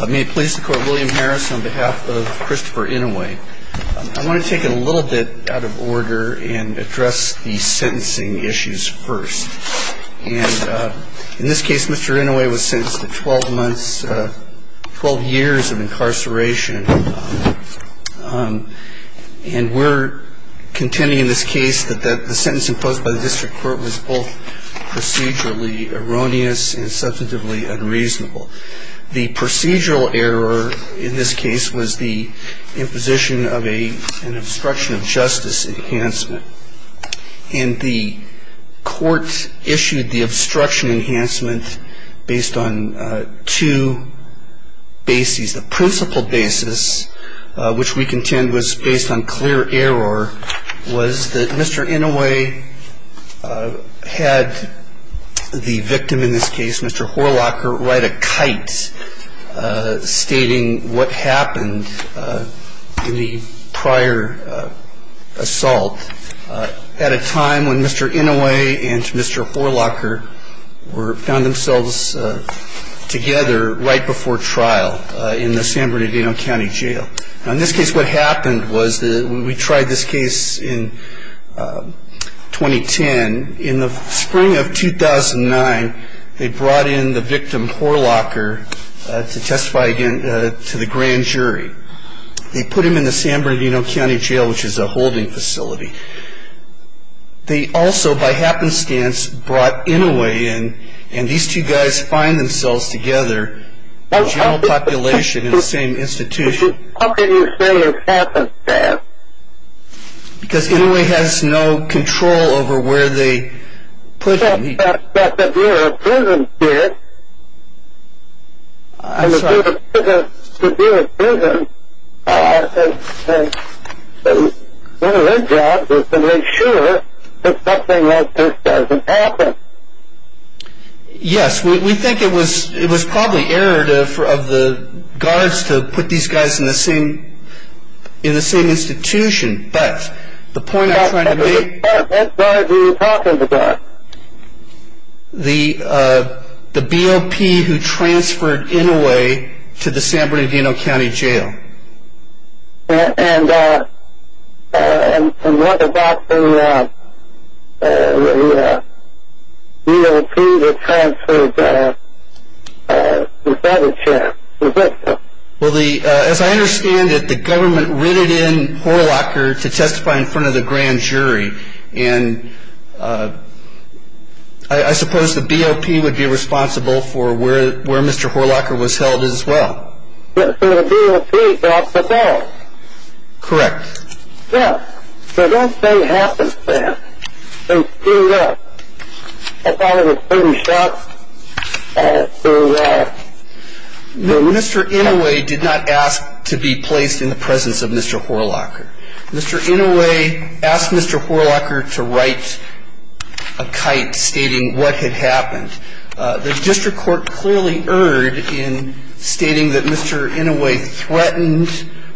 I want to take it a little bit out of order and address the sentencing issues first. And in this case, Mr. Inouye was sentenced to 12 months, 12 years of incarceration. And we're contending in this case that the sentence imposed by the district court was both procedurally erroneous and substantively unreasonable. The procedural error in this case was the imposition of an obstruction of justice enhancement. And the court issued the obstruction enhancement based on two bases. The principal basis, which we contend was based on clear error, was that Mr. Inouye had the victim in this case, Mr. Horlocker, ride a kite, stating what happened in the prior assault at a time when Mr. Inouye and Mr. Horlocker found themselves together right before trial. In the San Bernardino County Jail. In this case, what happened was we tried this case in 2010. In the spring of 2009, they brought in the victim, Horlocker, to testify again to the grand jury. They put him in the San Bernardino County Jail, which is a holding facility. They also, by happenstance, brought Inouye in, and these two guys find themselves together in general population in the same institution. How can you say it's happenstance? Because Inouye has no control over where they put him. But the Bureau of Prisons did. And the Bureau of Prisons, their job is to make sure that something like this doesn't happen. Yes, we think it was probably error of the guards to put these guys in the same institution, but the point I'm trying to make... That's why we talked to the guards. The BOP who transferred Inouye to the San Bernardino County Jail. And what about the BOP who transferred the federal chair to the victim? As I understand it, the government rented in Horlocker to testify in front of the grand jury. I suppose the BOP would be responsible for where Mr. Horlocker was held as well. But for the BOP, that's the fault. Correct. Yes, so don't say happenstance. They screwed up. I thought it was pretty sharp, and it screwed up. No, Mr. Inouye did not ask to be placed in the presence of Mr. Horlocker. Mr. Inouye asked Mr. Horlocker to write a kite stating what had happened. The district court clearly erred in stating that Mr. Inouye threatened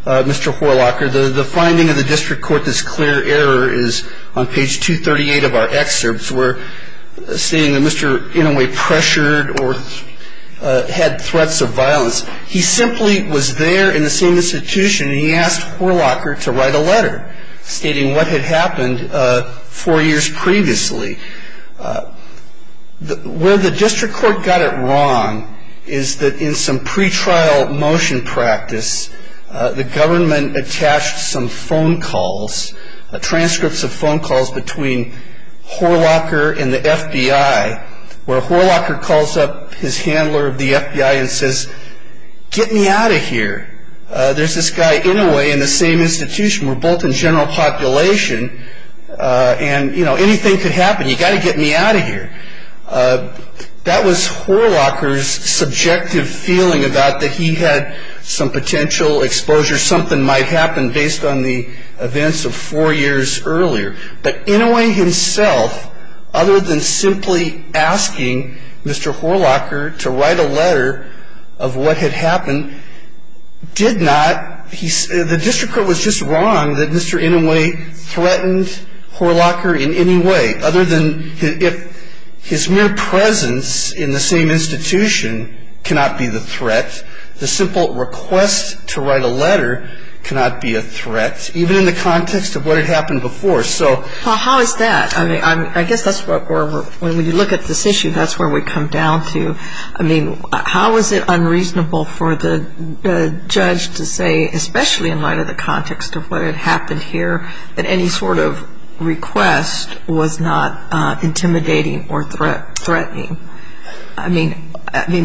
Mr. Horlocker. The finding of the district court that's clear error is on page 238 of our excerpts. We're seeing that Mr. Inouye pressured or had threats of violence. He simply was there in the same institution, and he asked Horlocker to write a letter stating what had happened four years previously. Where the district court got it wrong is that in some pretrial motion practice, the government attached some phone calls, transcripts of phone calls between Horlocker and the FBI, where Horlocker calls up his handler of the FBI and says, get me out of here. There's this guy Inouye in the same institution. We're both in general population, and anything could happen. You've got to get me out of here. That was Horlocker's subjective feeling about that he had some potential exposure, something might happen based on the events of four years earlier. But Inouye himself, other than simply asking Mr. Horlocker to write a letter of what had happened, did not. The district court was just wrong that Mr. Inouye threatened Horlocker in any way, other than if his mere presence in the same institution cannot be the threat, the simple request to write a letter cannot be a threat, even in the context of what had happened before. So. Well, how is that? I mean, I guess that's where, when you look at this issue, that's where we come down to. I mean, how is it unreasonable for the judge to say, especially in light of the context of what had happened here, that any sort of request was not intimidating or threatening? I mean,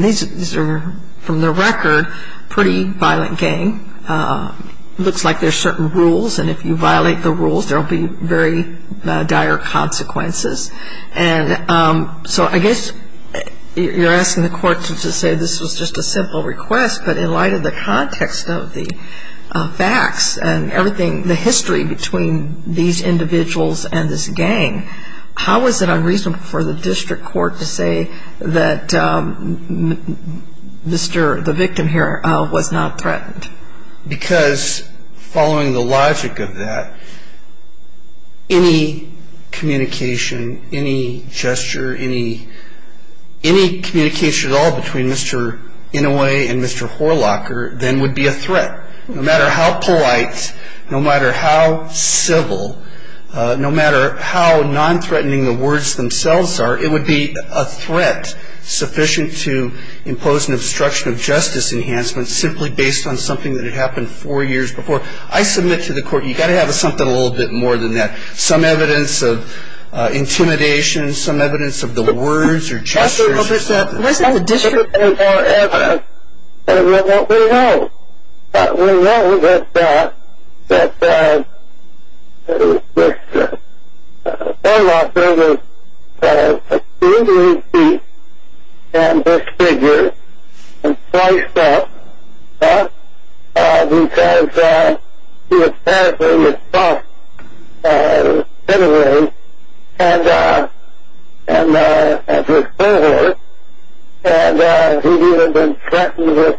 these are, from the record, pretty violent gang. It looks like there's certain rules, and if you violate the rules, there will be very dire consequences. And so I guess you're asking the court to say this was just a simple request, but in light of the context of the facts and everything, the history between these individuals and this gang, how is it unreasonable for the district court to say that Mr., the victim here, was not threatened? Because following the logic of that, any communication, any gesture, any communication at all between Mr. Inouye and Mr. Horlocker then would be a threat. No matter how polite, no matter how civil, no matter how non-threatening the words themselves are, it would be a threat sufficient to impose an obstruction of justice enhancement simply based on something that had happened four years before. I submit to the court you've got to have something a little bit more than that, some evidence of intimidation, some evidence of the words or gestures. Mr. Inouye, what we know, we know that Mr. Horlocker was being beaten and disfigured and sliced up because he was paraphrasing his boss, Mr. Inouye, and his cohort, and he would have been threatened with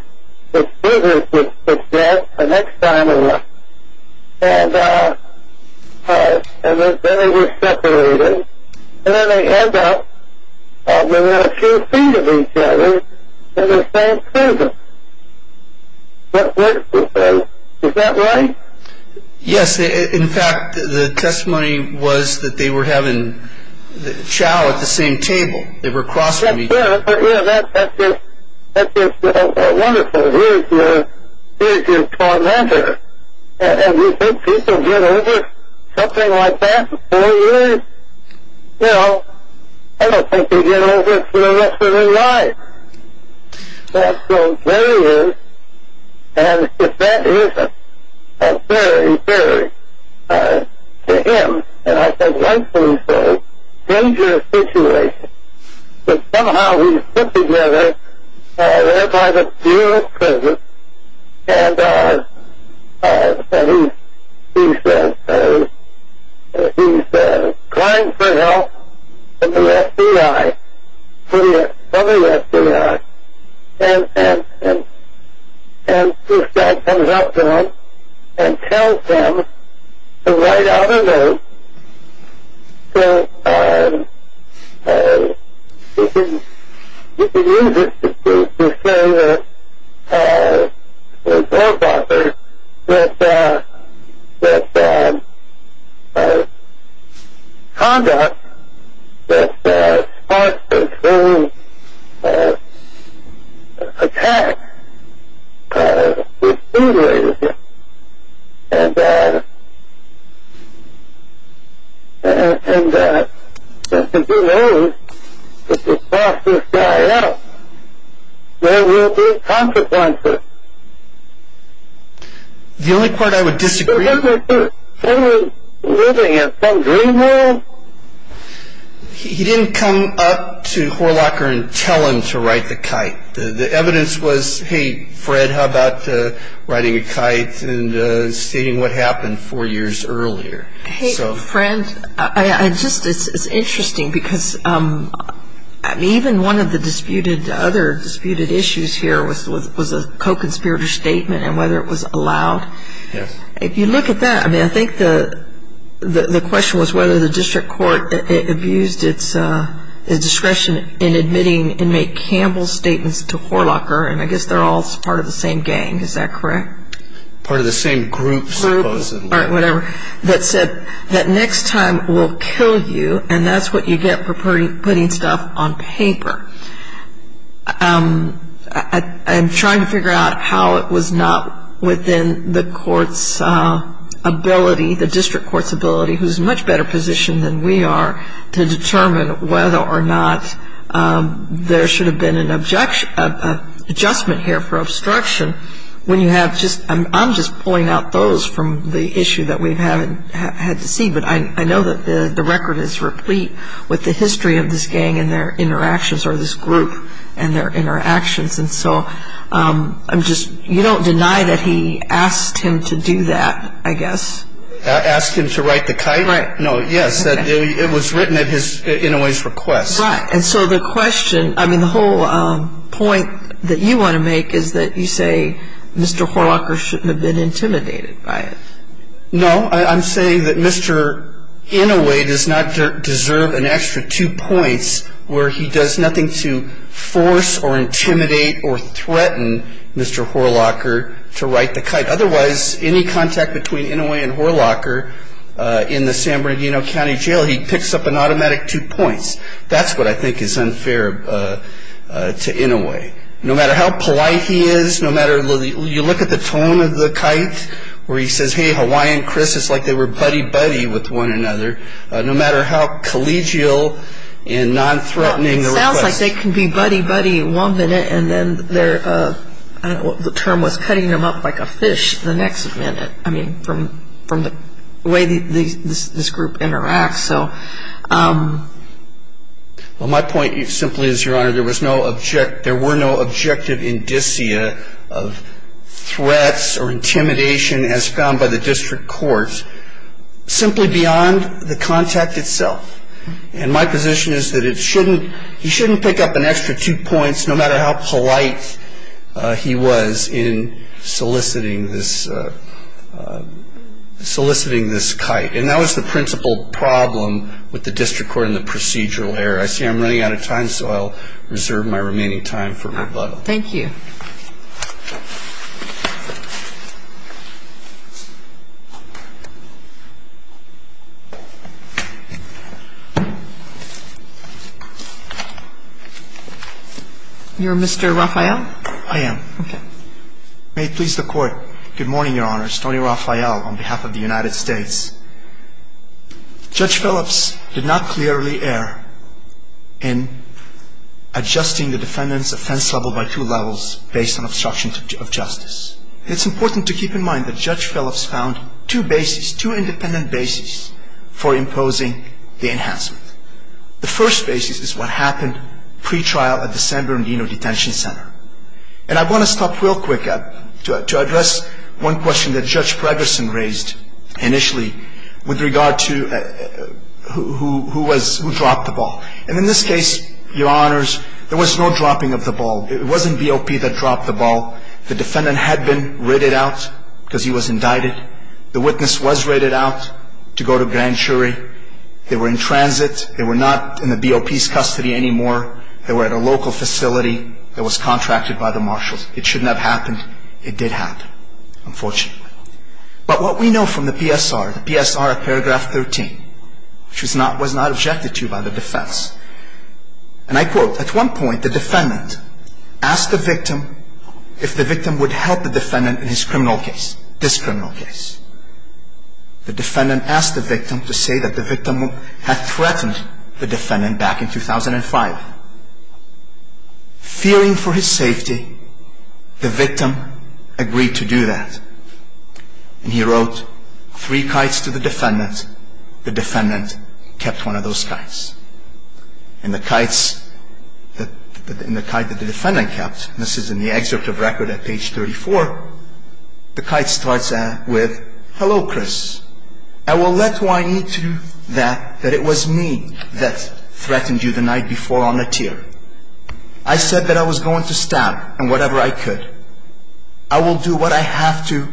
beating his dad the next time around. And then they were separated, and then it turns out they were two feet of each other in the same prison. That works to say, is that right? Yes, in fact, the testimony was that they were having chow at the same table. They were crossing each other. That's just wonderful. Here's your tormentor, and you think people get over something like that for four years? Well, I don't think they get over it for the rest of their lives. So there he is, and if that isn't a very, very, to him, and I think rightfully so, dangerous situation, but somehow he's put together there by the Bureau of Prisons, and he's trying for help from the FBI, from the FBI, and this guy comes up to him and tells him to write out a note. So you can use it to say that the court offers that conduct that starts between attacks with injuries and that if you let this guy out, there will be consequences. The only part I would disagree with is he didn't come up to Horlacher and tell him to write the kite. The evidence was, hey, Fred, how about writing a kite and stating what happened four years earlier? Hey, Fred, it's interesting because even one of the other disputed issues here was a co-conspirator statement and whether it was allowed. If you look at that, I think the question was whether the district court abused its discretion in admitting inmate Campbell's statements to Horlacher, and I guess they're all part of the same gang, is that correct? Part of the same group, supposedly. Group or whatever, that said that next time we'll kill you, and that's what you get for putting stuff on paper. I'm trying to figure out how it was not within the court's ability, the district court's ability, who's in a much better position than we are, to determine whether or not there should have been an adjustment here for obstruction. I'm just pulling out those from the issue that we've had to see, but I know that the record is replete with the history of this gang and their interactions or this group and their interactions, and so you don't deny that he asked him to do that, I guess. Asked him to write the kite? Right. No, yes, it was written at Inouye's request. Right, and so the question, I mean, the whole point that you want to make is that you say Mr. Horlacher shouldn't have been intimidated by it. No, I'm saying that Mr. Inouye does not deserve an extra two points where he does nothing to force or intimidate or threaten Mr. Horlacher to write the kite. Otherwise, any contact between Inouye and Horlacher in the San Bernardino County Jail, he picks up an automatic two points. That's what I think is unfair to Inouye. No matter how polite he is, no matter, you look at the tone of the kite where he says, hey, Hawaiian Chris, it's like they were buddy-buddy with one another, no matter how collegial and non-threatening the request. It's like they can be buddy-buddy one minute and then their, I don't know what the term was, cutting them up like a fish the next minute. I mean, from the way this group interacts, so. Well, my point simply is, Your Honor, there was no objective, there were no objective indicia of threats or intimidation as found by the district court, simply beyond the contact itself. And my position is that it shouldn't, he shouldn't pick up an extra two points, no matter how polite he was in soliciting this, soliciting this kite. And that was the principal problem with the district court and the procedural error. I see I'm running out of time, so I'll reserve my remaining time for rebuttal. Thank you. You're Mr. Rafael? I am. Okay. May it please the Court. Good morning, Your Honor. Stoney Rafael on behalf of the United States. Judge Phillips did not clearly err in adjusting the defendant's offense level by two levels based on obstruction of justice. It's important to keep in mind that Judge Phillips found two bases, two independent bases for imposing the enhancement. The first basis is what happened pre-trial at the San Bernardino Detention Center. And I want to stop real quick to address one question that Judge Pregerson raised initially with regard to who was, who dropped the ball. And in this case, Your Honors, there was no dropping of the ball. It wasn't BOP that dropped the ball. The defendant had been raided out because he was indicted. The witness was raided out to go to Grand Jury. They were in transit. They were not in the BOP's custody anymore. They were at a local facility that was contracted by the Marshals. It shouldn't have happened. It did happen, unfortunately. But what we know from the PSR, the PSR at paragraph 13, which was not objected to by the defense, and I quote, At one point, the defendant asked the victim if the victim would help the defendant in his criminal case, this criminal case. The defendant asked the victim to say that the victim had threatened the defendant back in 2005. Fearing for his safety, the victim agreed to do that. And he wrote three kites to the defendant. The defendant kept one of those kites. And the kites that the defendant kept, this is in the excerpt of record at page 34, the kite starts with, Hello, Chris. I will let who I need to do that, that it was me that threatened you the night before on the tier. I said that I was going to stab and whatever I could. I will do what I have to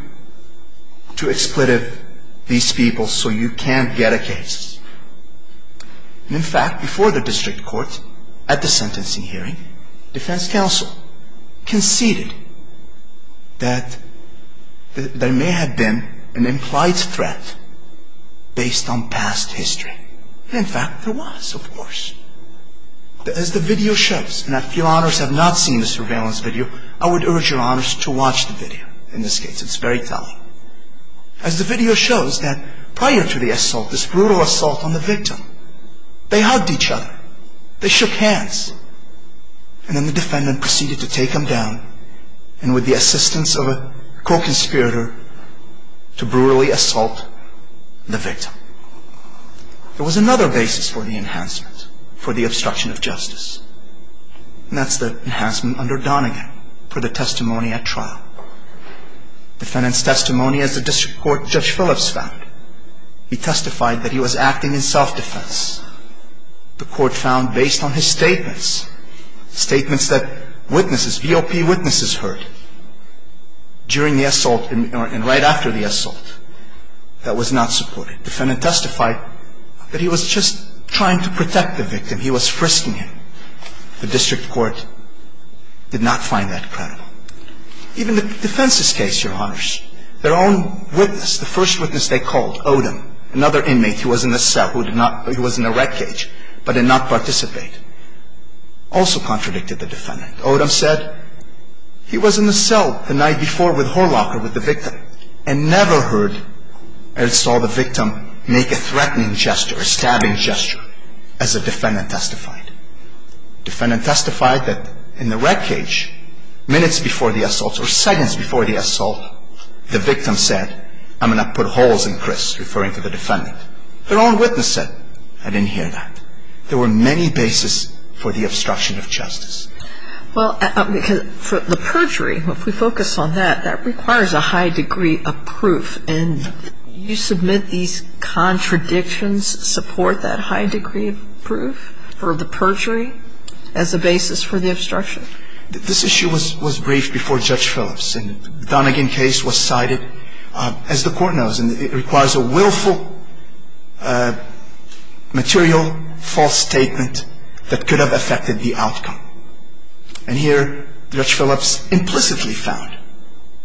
to expletive these people so you can't get a case. In fact, before the district court, at the sentencing hearing, defense counsel conceded that there may have been an implied threat based on past history. In fact, there was, of course. As the video shows, and if your honors have not seen the surveillance video, I would urge your honors to watch the video. In this case, it's very telling. As the video shows that prior to the assault, this brutal assault on the victim, they hugged each other. They shook hands. And then the defendant proceeded to take him down, and with the assistance of a co-conspirator, to brutally assault the victim. There was another basis for the enhancement, for the obstruction of justice. Defendant's testimony, as the district court judge Phillips found, he testified that he was acting in self-defense. The court found based on his statements, statements that witnesses, VOP witnesses heard during the assault and right after the assault, that was not supported. Defendant testified that he was just trying to protect the victim. He was frisking him. The district court did not find that credible. Even the defense's case, your honors, their own witness, the first witness they called, Odom, another inmate who was in the cell, who was in the red cage, but did not participate, also contradicted the defendant. Odom said he was in the cell the night before with Horlocker, with the victim, and never heard or saw the victim make a threatening gesture, a stabbing gesture, as the defendant testified. Defendant testified that in the red cage, minutes before the assault, or seconds before the assault, the victim said, I'm going to put holes in Chris, referring to the defendant. Their own witness said, I didn't hear that. There were many bases for the obstruction of justice. Well, for the perjury, if we focus on that, that requires a high degree of proof, a high degree of proof for the perjury as a basis for the obstruction. This issue was briefed before Judge Phillips, and the Donegan case was cited, as the court knows, and it requires a willful, material, false statement that could have affected the outcome. And here, Judge Phillips implicitly found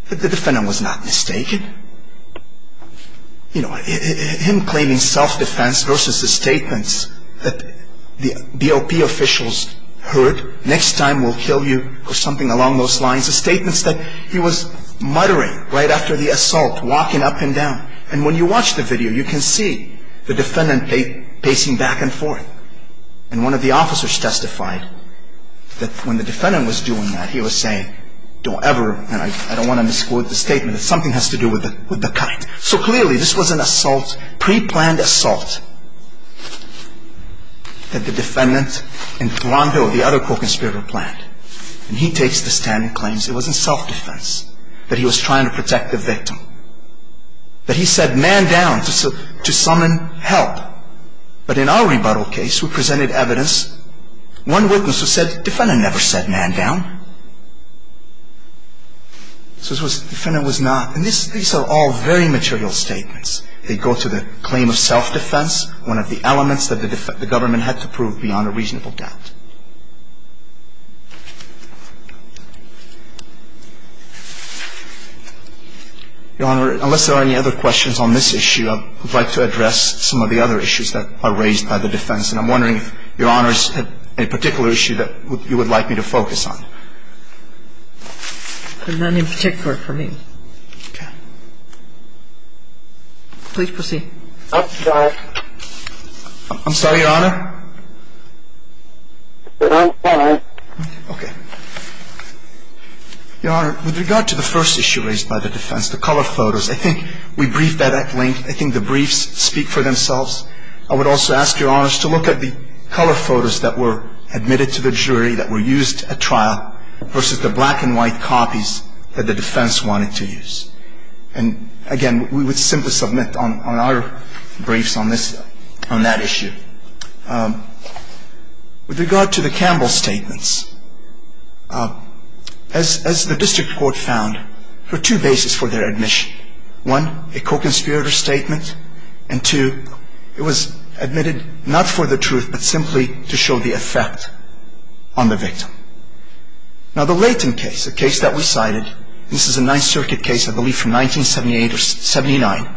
that the defendant was not mistaken. You know, him claiming self-defense versus the statements that the BOP officials heard, next time we'll kill you, or something along those lines, the statements that he was muttering right after the assault, walking up and down. And when you watch the video, you can see the defendant pacing back and forth. And one of the officers testified that when the defendant was doing that, he was saying, don't ever, and I don't want to misquote the statement, that something has to do with the kite. So clearly, this was an assault, pre-planned assault, that the defendant and Thuron Hill, the other co-conspirator, planned. And he takes the stand and claims it wasn't self-defense, that he was trying to protect the victim. That he said, man down, to summon help. But in our rebuttal case, we presented evidence, one witness who said, defendant never said man down. So the defendant was not, and these are all very material statements. They go to the claim of self-defense, one of the elements that the government had to prove beyond a reasonable doubt. Your Honor, unless there are any other questions on this issue, I would like to address some of the other issues that are raised by the defense. And I'm wondering if Your Honor has a particular issue that you would like me to focus on. None in particular for me. Okay. Please proceed. I'm sorry, Your Honor. Your Honor, with regard to the first issue raised by the defense, the color photos, I think we briefed that at length. I think the briefs speak for themselves. I would also ask Your Honor to look at the color photos that were admitted to the jury, that were used at trial, versus the black and white copies that the defense wanted to use. And again, we would simply submit on our briefs on this, on that issue. With regard to the Campbell statements, as the district court found, there are two bases for their admission. One, a co-conspirator statement, and two, it was admitted not for the truth, but simply to show the effect on the victim. Now, the Layton case, a case that we cited, this is a Ninth Circuit case, I believe, from 1978 or 79.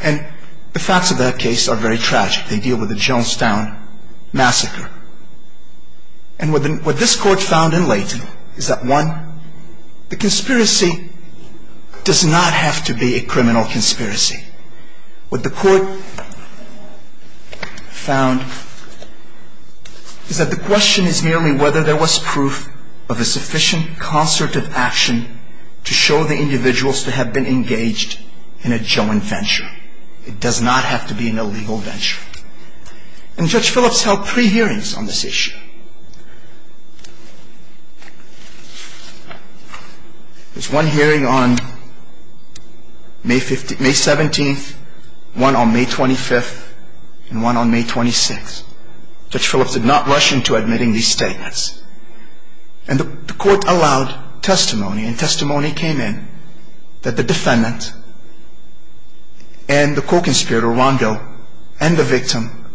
And the facts of that case are very tragic. They deal with the Jonestown massacre. And what this court found in Layton is that, one, the conspiracy does not have to be a criminal conspiracy. What the court found is that the question is merely whether there was proof of a sufficient concert of action to show the individuals to have been engaged in a joint venture. It does not have to be an illegal venture. And Judge Phillips held three hearings on this issue. There's one hearing on May 17th, one on May 25th, and one on May 26th. Judge Phillips did not rush into admitting these statements. And the court allowed testimony. And testimony came in that the defendant and the co-conspirator, Rondeau, and the victim,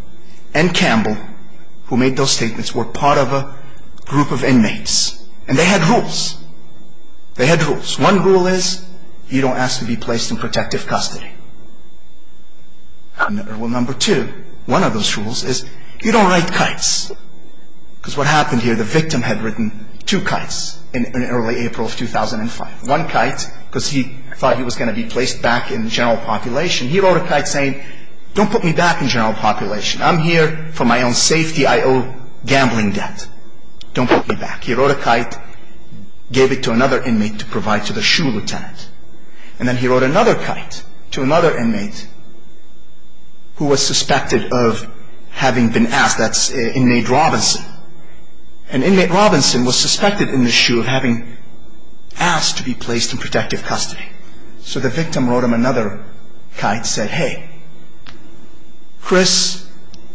and Campbell, who made those statements, were part of a group of inmates. And they had rules. They had rules. One rule is you don't ask to be placed in protective custody. Rule number two, one of those rules, is you don't write kites. Because what happened here, the victim had written two kites in early April of 2005. One kite, because he thought he was going to be placed back in general population. He wrote a kite saying, don't put me back in general population. I'm here for my own safety. I owe gambling debt. Don't put me back. He wrote a kite, gave it to another inmate to provide to the SHU lieutenant. And then he wrote another kite to another inmate who was suspected of having been asked. That's inmate Robinson. And inmate Robinson was suspected in the SHU of having asked to be placed in protective custody. So the victim wrote him another kite, said, hey, Chris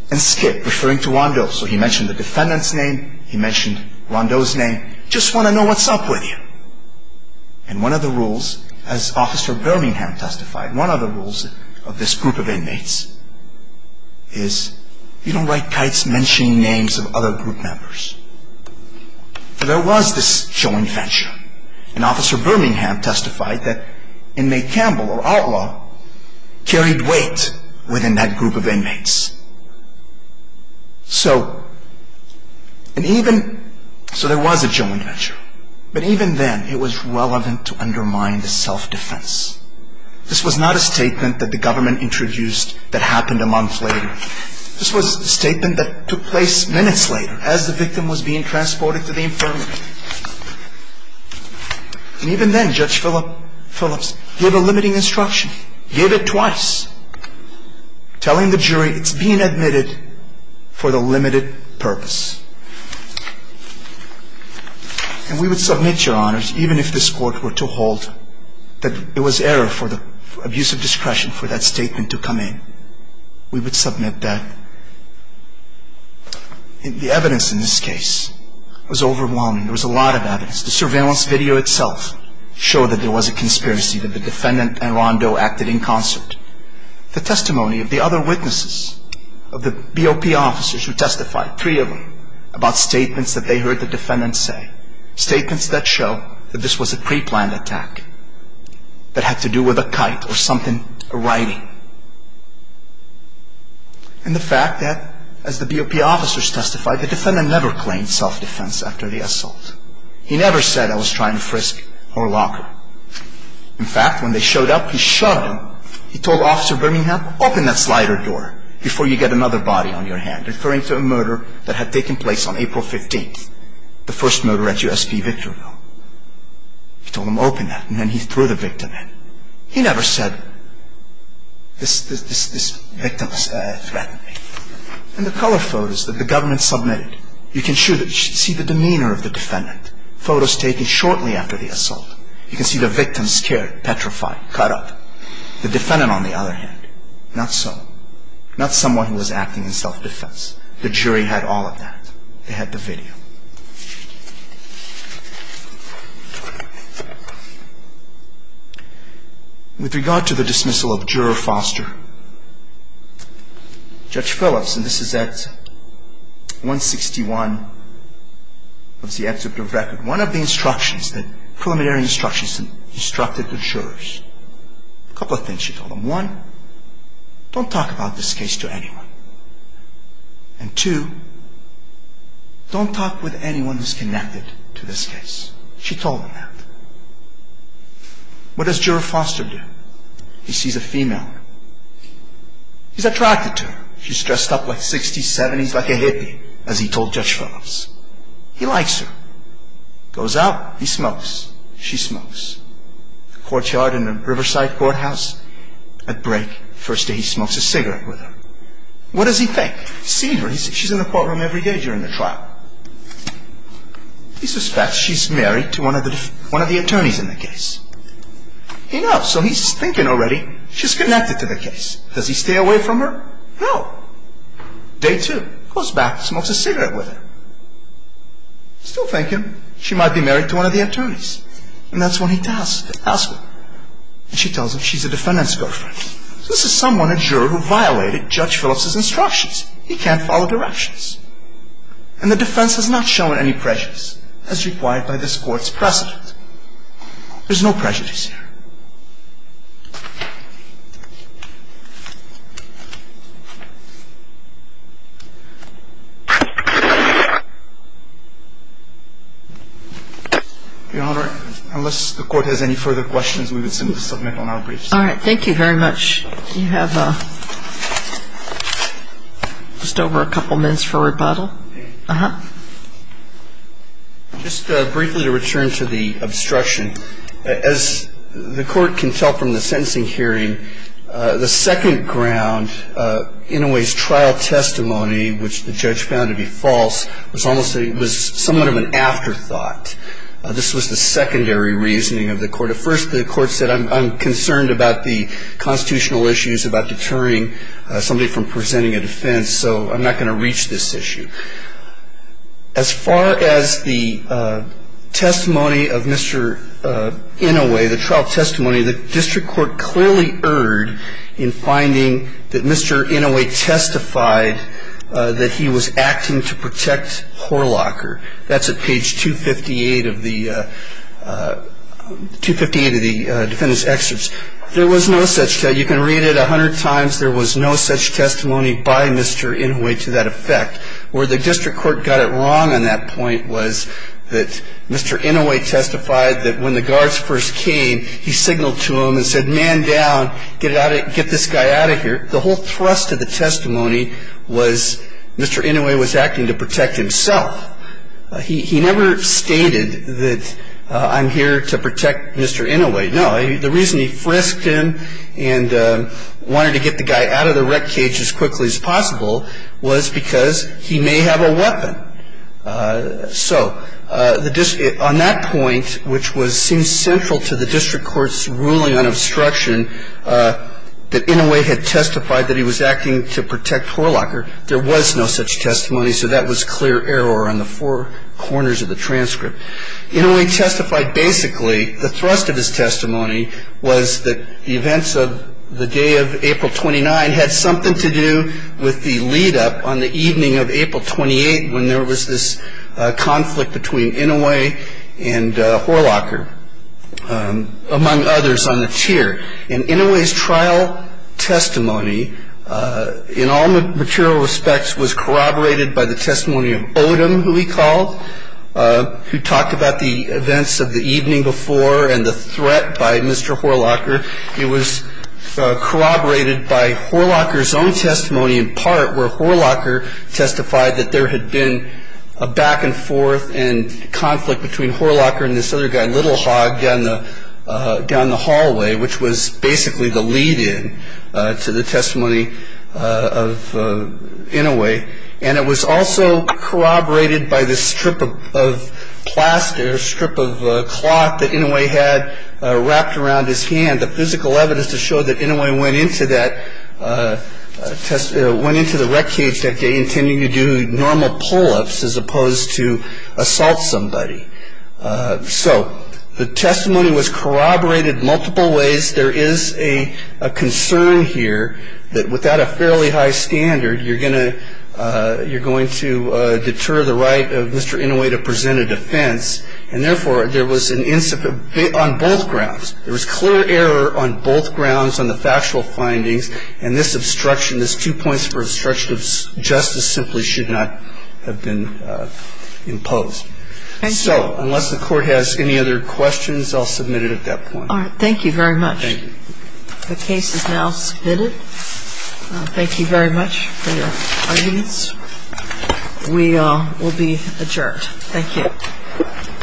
and Skip, referring to Rondo. So he mentioned the defendant's name. He mentioned Rondo's name. Just want to know what's up with you. And one of the rules, as Officer Birmingham testified, one of the rules of this group of inmates, is you don't write kites mentioning names of other group members. There was this joint venture. And Officer Birmingham testified that inmate Campbell or Outlaw carried weight within that group of inmates. So there was a joint venture. But even then, it was relevant to undermine the self-defense. This was not a statement that the government introduced that happened a month later. This was a statement that took place minutes later as the victim was being transported to the infirmary. And even then, Judge Phillips gave a limiting instruction, gave it twice, telling the jury it's being admitted for the limited purpose. And we would submit, Your Honors, even if this Court were to hold that it was error for the abuse of discretion for that statement to come in. We would submit that. The evidence in this case was overwhelming. There was a lot of evidence. The surveillance video itself showed that there was a conspiracy, that the defendant and Rondo acted in concert. The testimony of the other witnesses, of the BOP officers who testified, three of them, about statements that they heard the defendant say, statements that show that this was a preplanned attack that had to do with a kite or something, a writing. And the fact that, as the BOP officers testified, the defendant never claimed self-defense after the assault. He never said, I was trying to frisk her locker. In fact, when they showed up, he shoved them. He told Officer Birmingham, open that slider door before you get another body on your hand, referring to a murder that had taken place on April 15th, the first murder at USP Victorville. He told him, open that, and then he threw the victim in. He never said, this victim threatened me. And the color photos that the government submitted, you can see the demeanor of the defendant. Photos taken shortly after the assault. You can see the victim scared, petrified, cut up. The defendant, on the other hand, not so. Not someone who was acting in self-defense. The jury had all of that. They had the video. With regard to the dismissal of Juror Foster, Judge Phillips, and this is at 161 of the executive record, one of the preliminary instructions instructed the jurors, a couple of things she told them. One, don't talk about this case to anyone. And two, don't talk with anyone who's connected to this case. She told them that. What does Juror Foster do? He sees a female. He's attracted to her. She's dressed up like 60s, 70s, like a hippie, as he told Judge Phillips. He likes her. Goes out, he smokes, she smokes. Courtyard in a Riverside courthouse, at break, first day he smokes a cigarette with her. What does he think? He's seen her. She's in the courtroom every day during the trial. He suspects she's married to one of the attorneys in the case. He knows, so he's thinking already she's connected to the case. Does he stay away from her? No. Day two, goes back, smokes a cigarette with her. Still thinking she might be married to one of the attorneys. And that's when he tells her. And she tells him she's the defendant's girlfriend. This is someone, a juror, who violated Judge Phillips' instructions. He can't follow directions. And the defense has not shown any prejudice, as required by this Court's precedent. There's no prejudice here. Your Honor, unless the Court has any further questions, we would simply submit on our briefs. All right. Thank you very much. You have just over a couple minutes for rebuttal. Just briefly to return to the obstruction. As the Court can tell from the sentencing hearing, the second ground, in a way, is trial testimony, which the judge found to be false. It was somewhat of an afterthought. This was the secondary reasoning of the Court. At first, the Court said, I'm concerned about the constitutional issues, about deterring somebody from presenting a defense, so I'm not going to reach this issue. As far as the testimony of Mr. Inouye, the trial testimony, the district court clearly erred in finding that Mr. Inouye testified that he was acting to protect Horlocker. That's at page 258 of the defendant's excerpts. There was no such testimony. You can read it a hundred times. There was no such testimony by Mr. Inouye to that effect. Where the district court got it wrong on that point was that Mr. Inouye testified that when the guards first came, he signaled to them and said, man down, get this guy out of here. The whole thrust of the testimony was Mr. Inouye was acting to protect himself. He never stated that I'm here to protect Mr. Inouye. No, the reason he frisked him and wanted to get the guy out of the wreck cage as quickly as possible was because he may have a weapon. So on that point, which seems central to the district court's ruling on obstruction, that Inouye had testified that he was acting to protect Horlocker, there was no such testimony. So that was clear error on the four corners of the transcript. Inouye testified basically, the thrust of his testimony was that the events of the day of April 29 had something to do with the lead up on the evening of April 28, when there was this conflict between Inouye and Horlocker, among others on the tier. In Inouye's trial testimony, in all material respects, was corroborated by the testimony of Odom, who he called, who talked about the events of the evening before and the threat by Mr. Horlocker. It was corroborated by Horlocker's own testimony in part, where Horlocker testified that there had been a back and forth and conflict between Horlocker and this other guy, Little Hog, down the hallway, which was basically the lead in to the testimony of Inouye. And it was also corroborated by this strip of plaster, a strip of cloth that Inouye had wrapped around his hand, the physical evidence to show that Inouye went into the wreckage that day, intending to do normal pull-ups as opposed to assault somebody. So the testimony was corroborated multiple ways. There is a concern here that without a fairly high standard, you're going to deter the right of Mr. Inouye to present a defense. And therefore, there was an incident on both grounds. There was clear error on both grounds on the factual findings. And this obstruction, this two points for obstruction of justice, simply should not have been imposed. So unless the Court has any other questions, I'll submit it at that point. All right. Thank you very much. Thank you. The case is now submitted. Thank you very much for your arguments. We will be adjourned. Thank you. Thank you.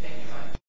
Thank you.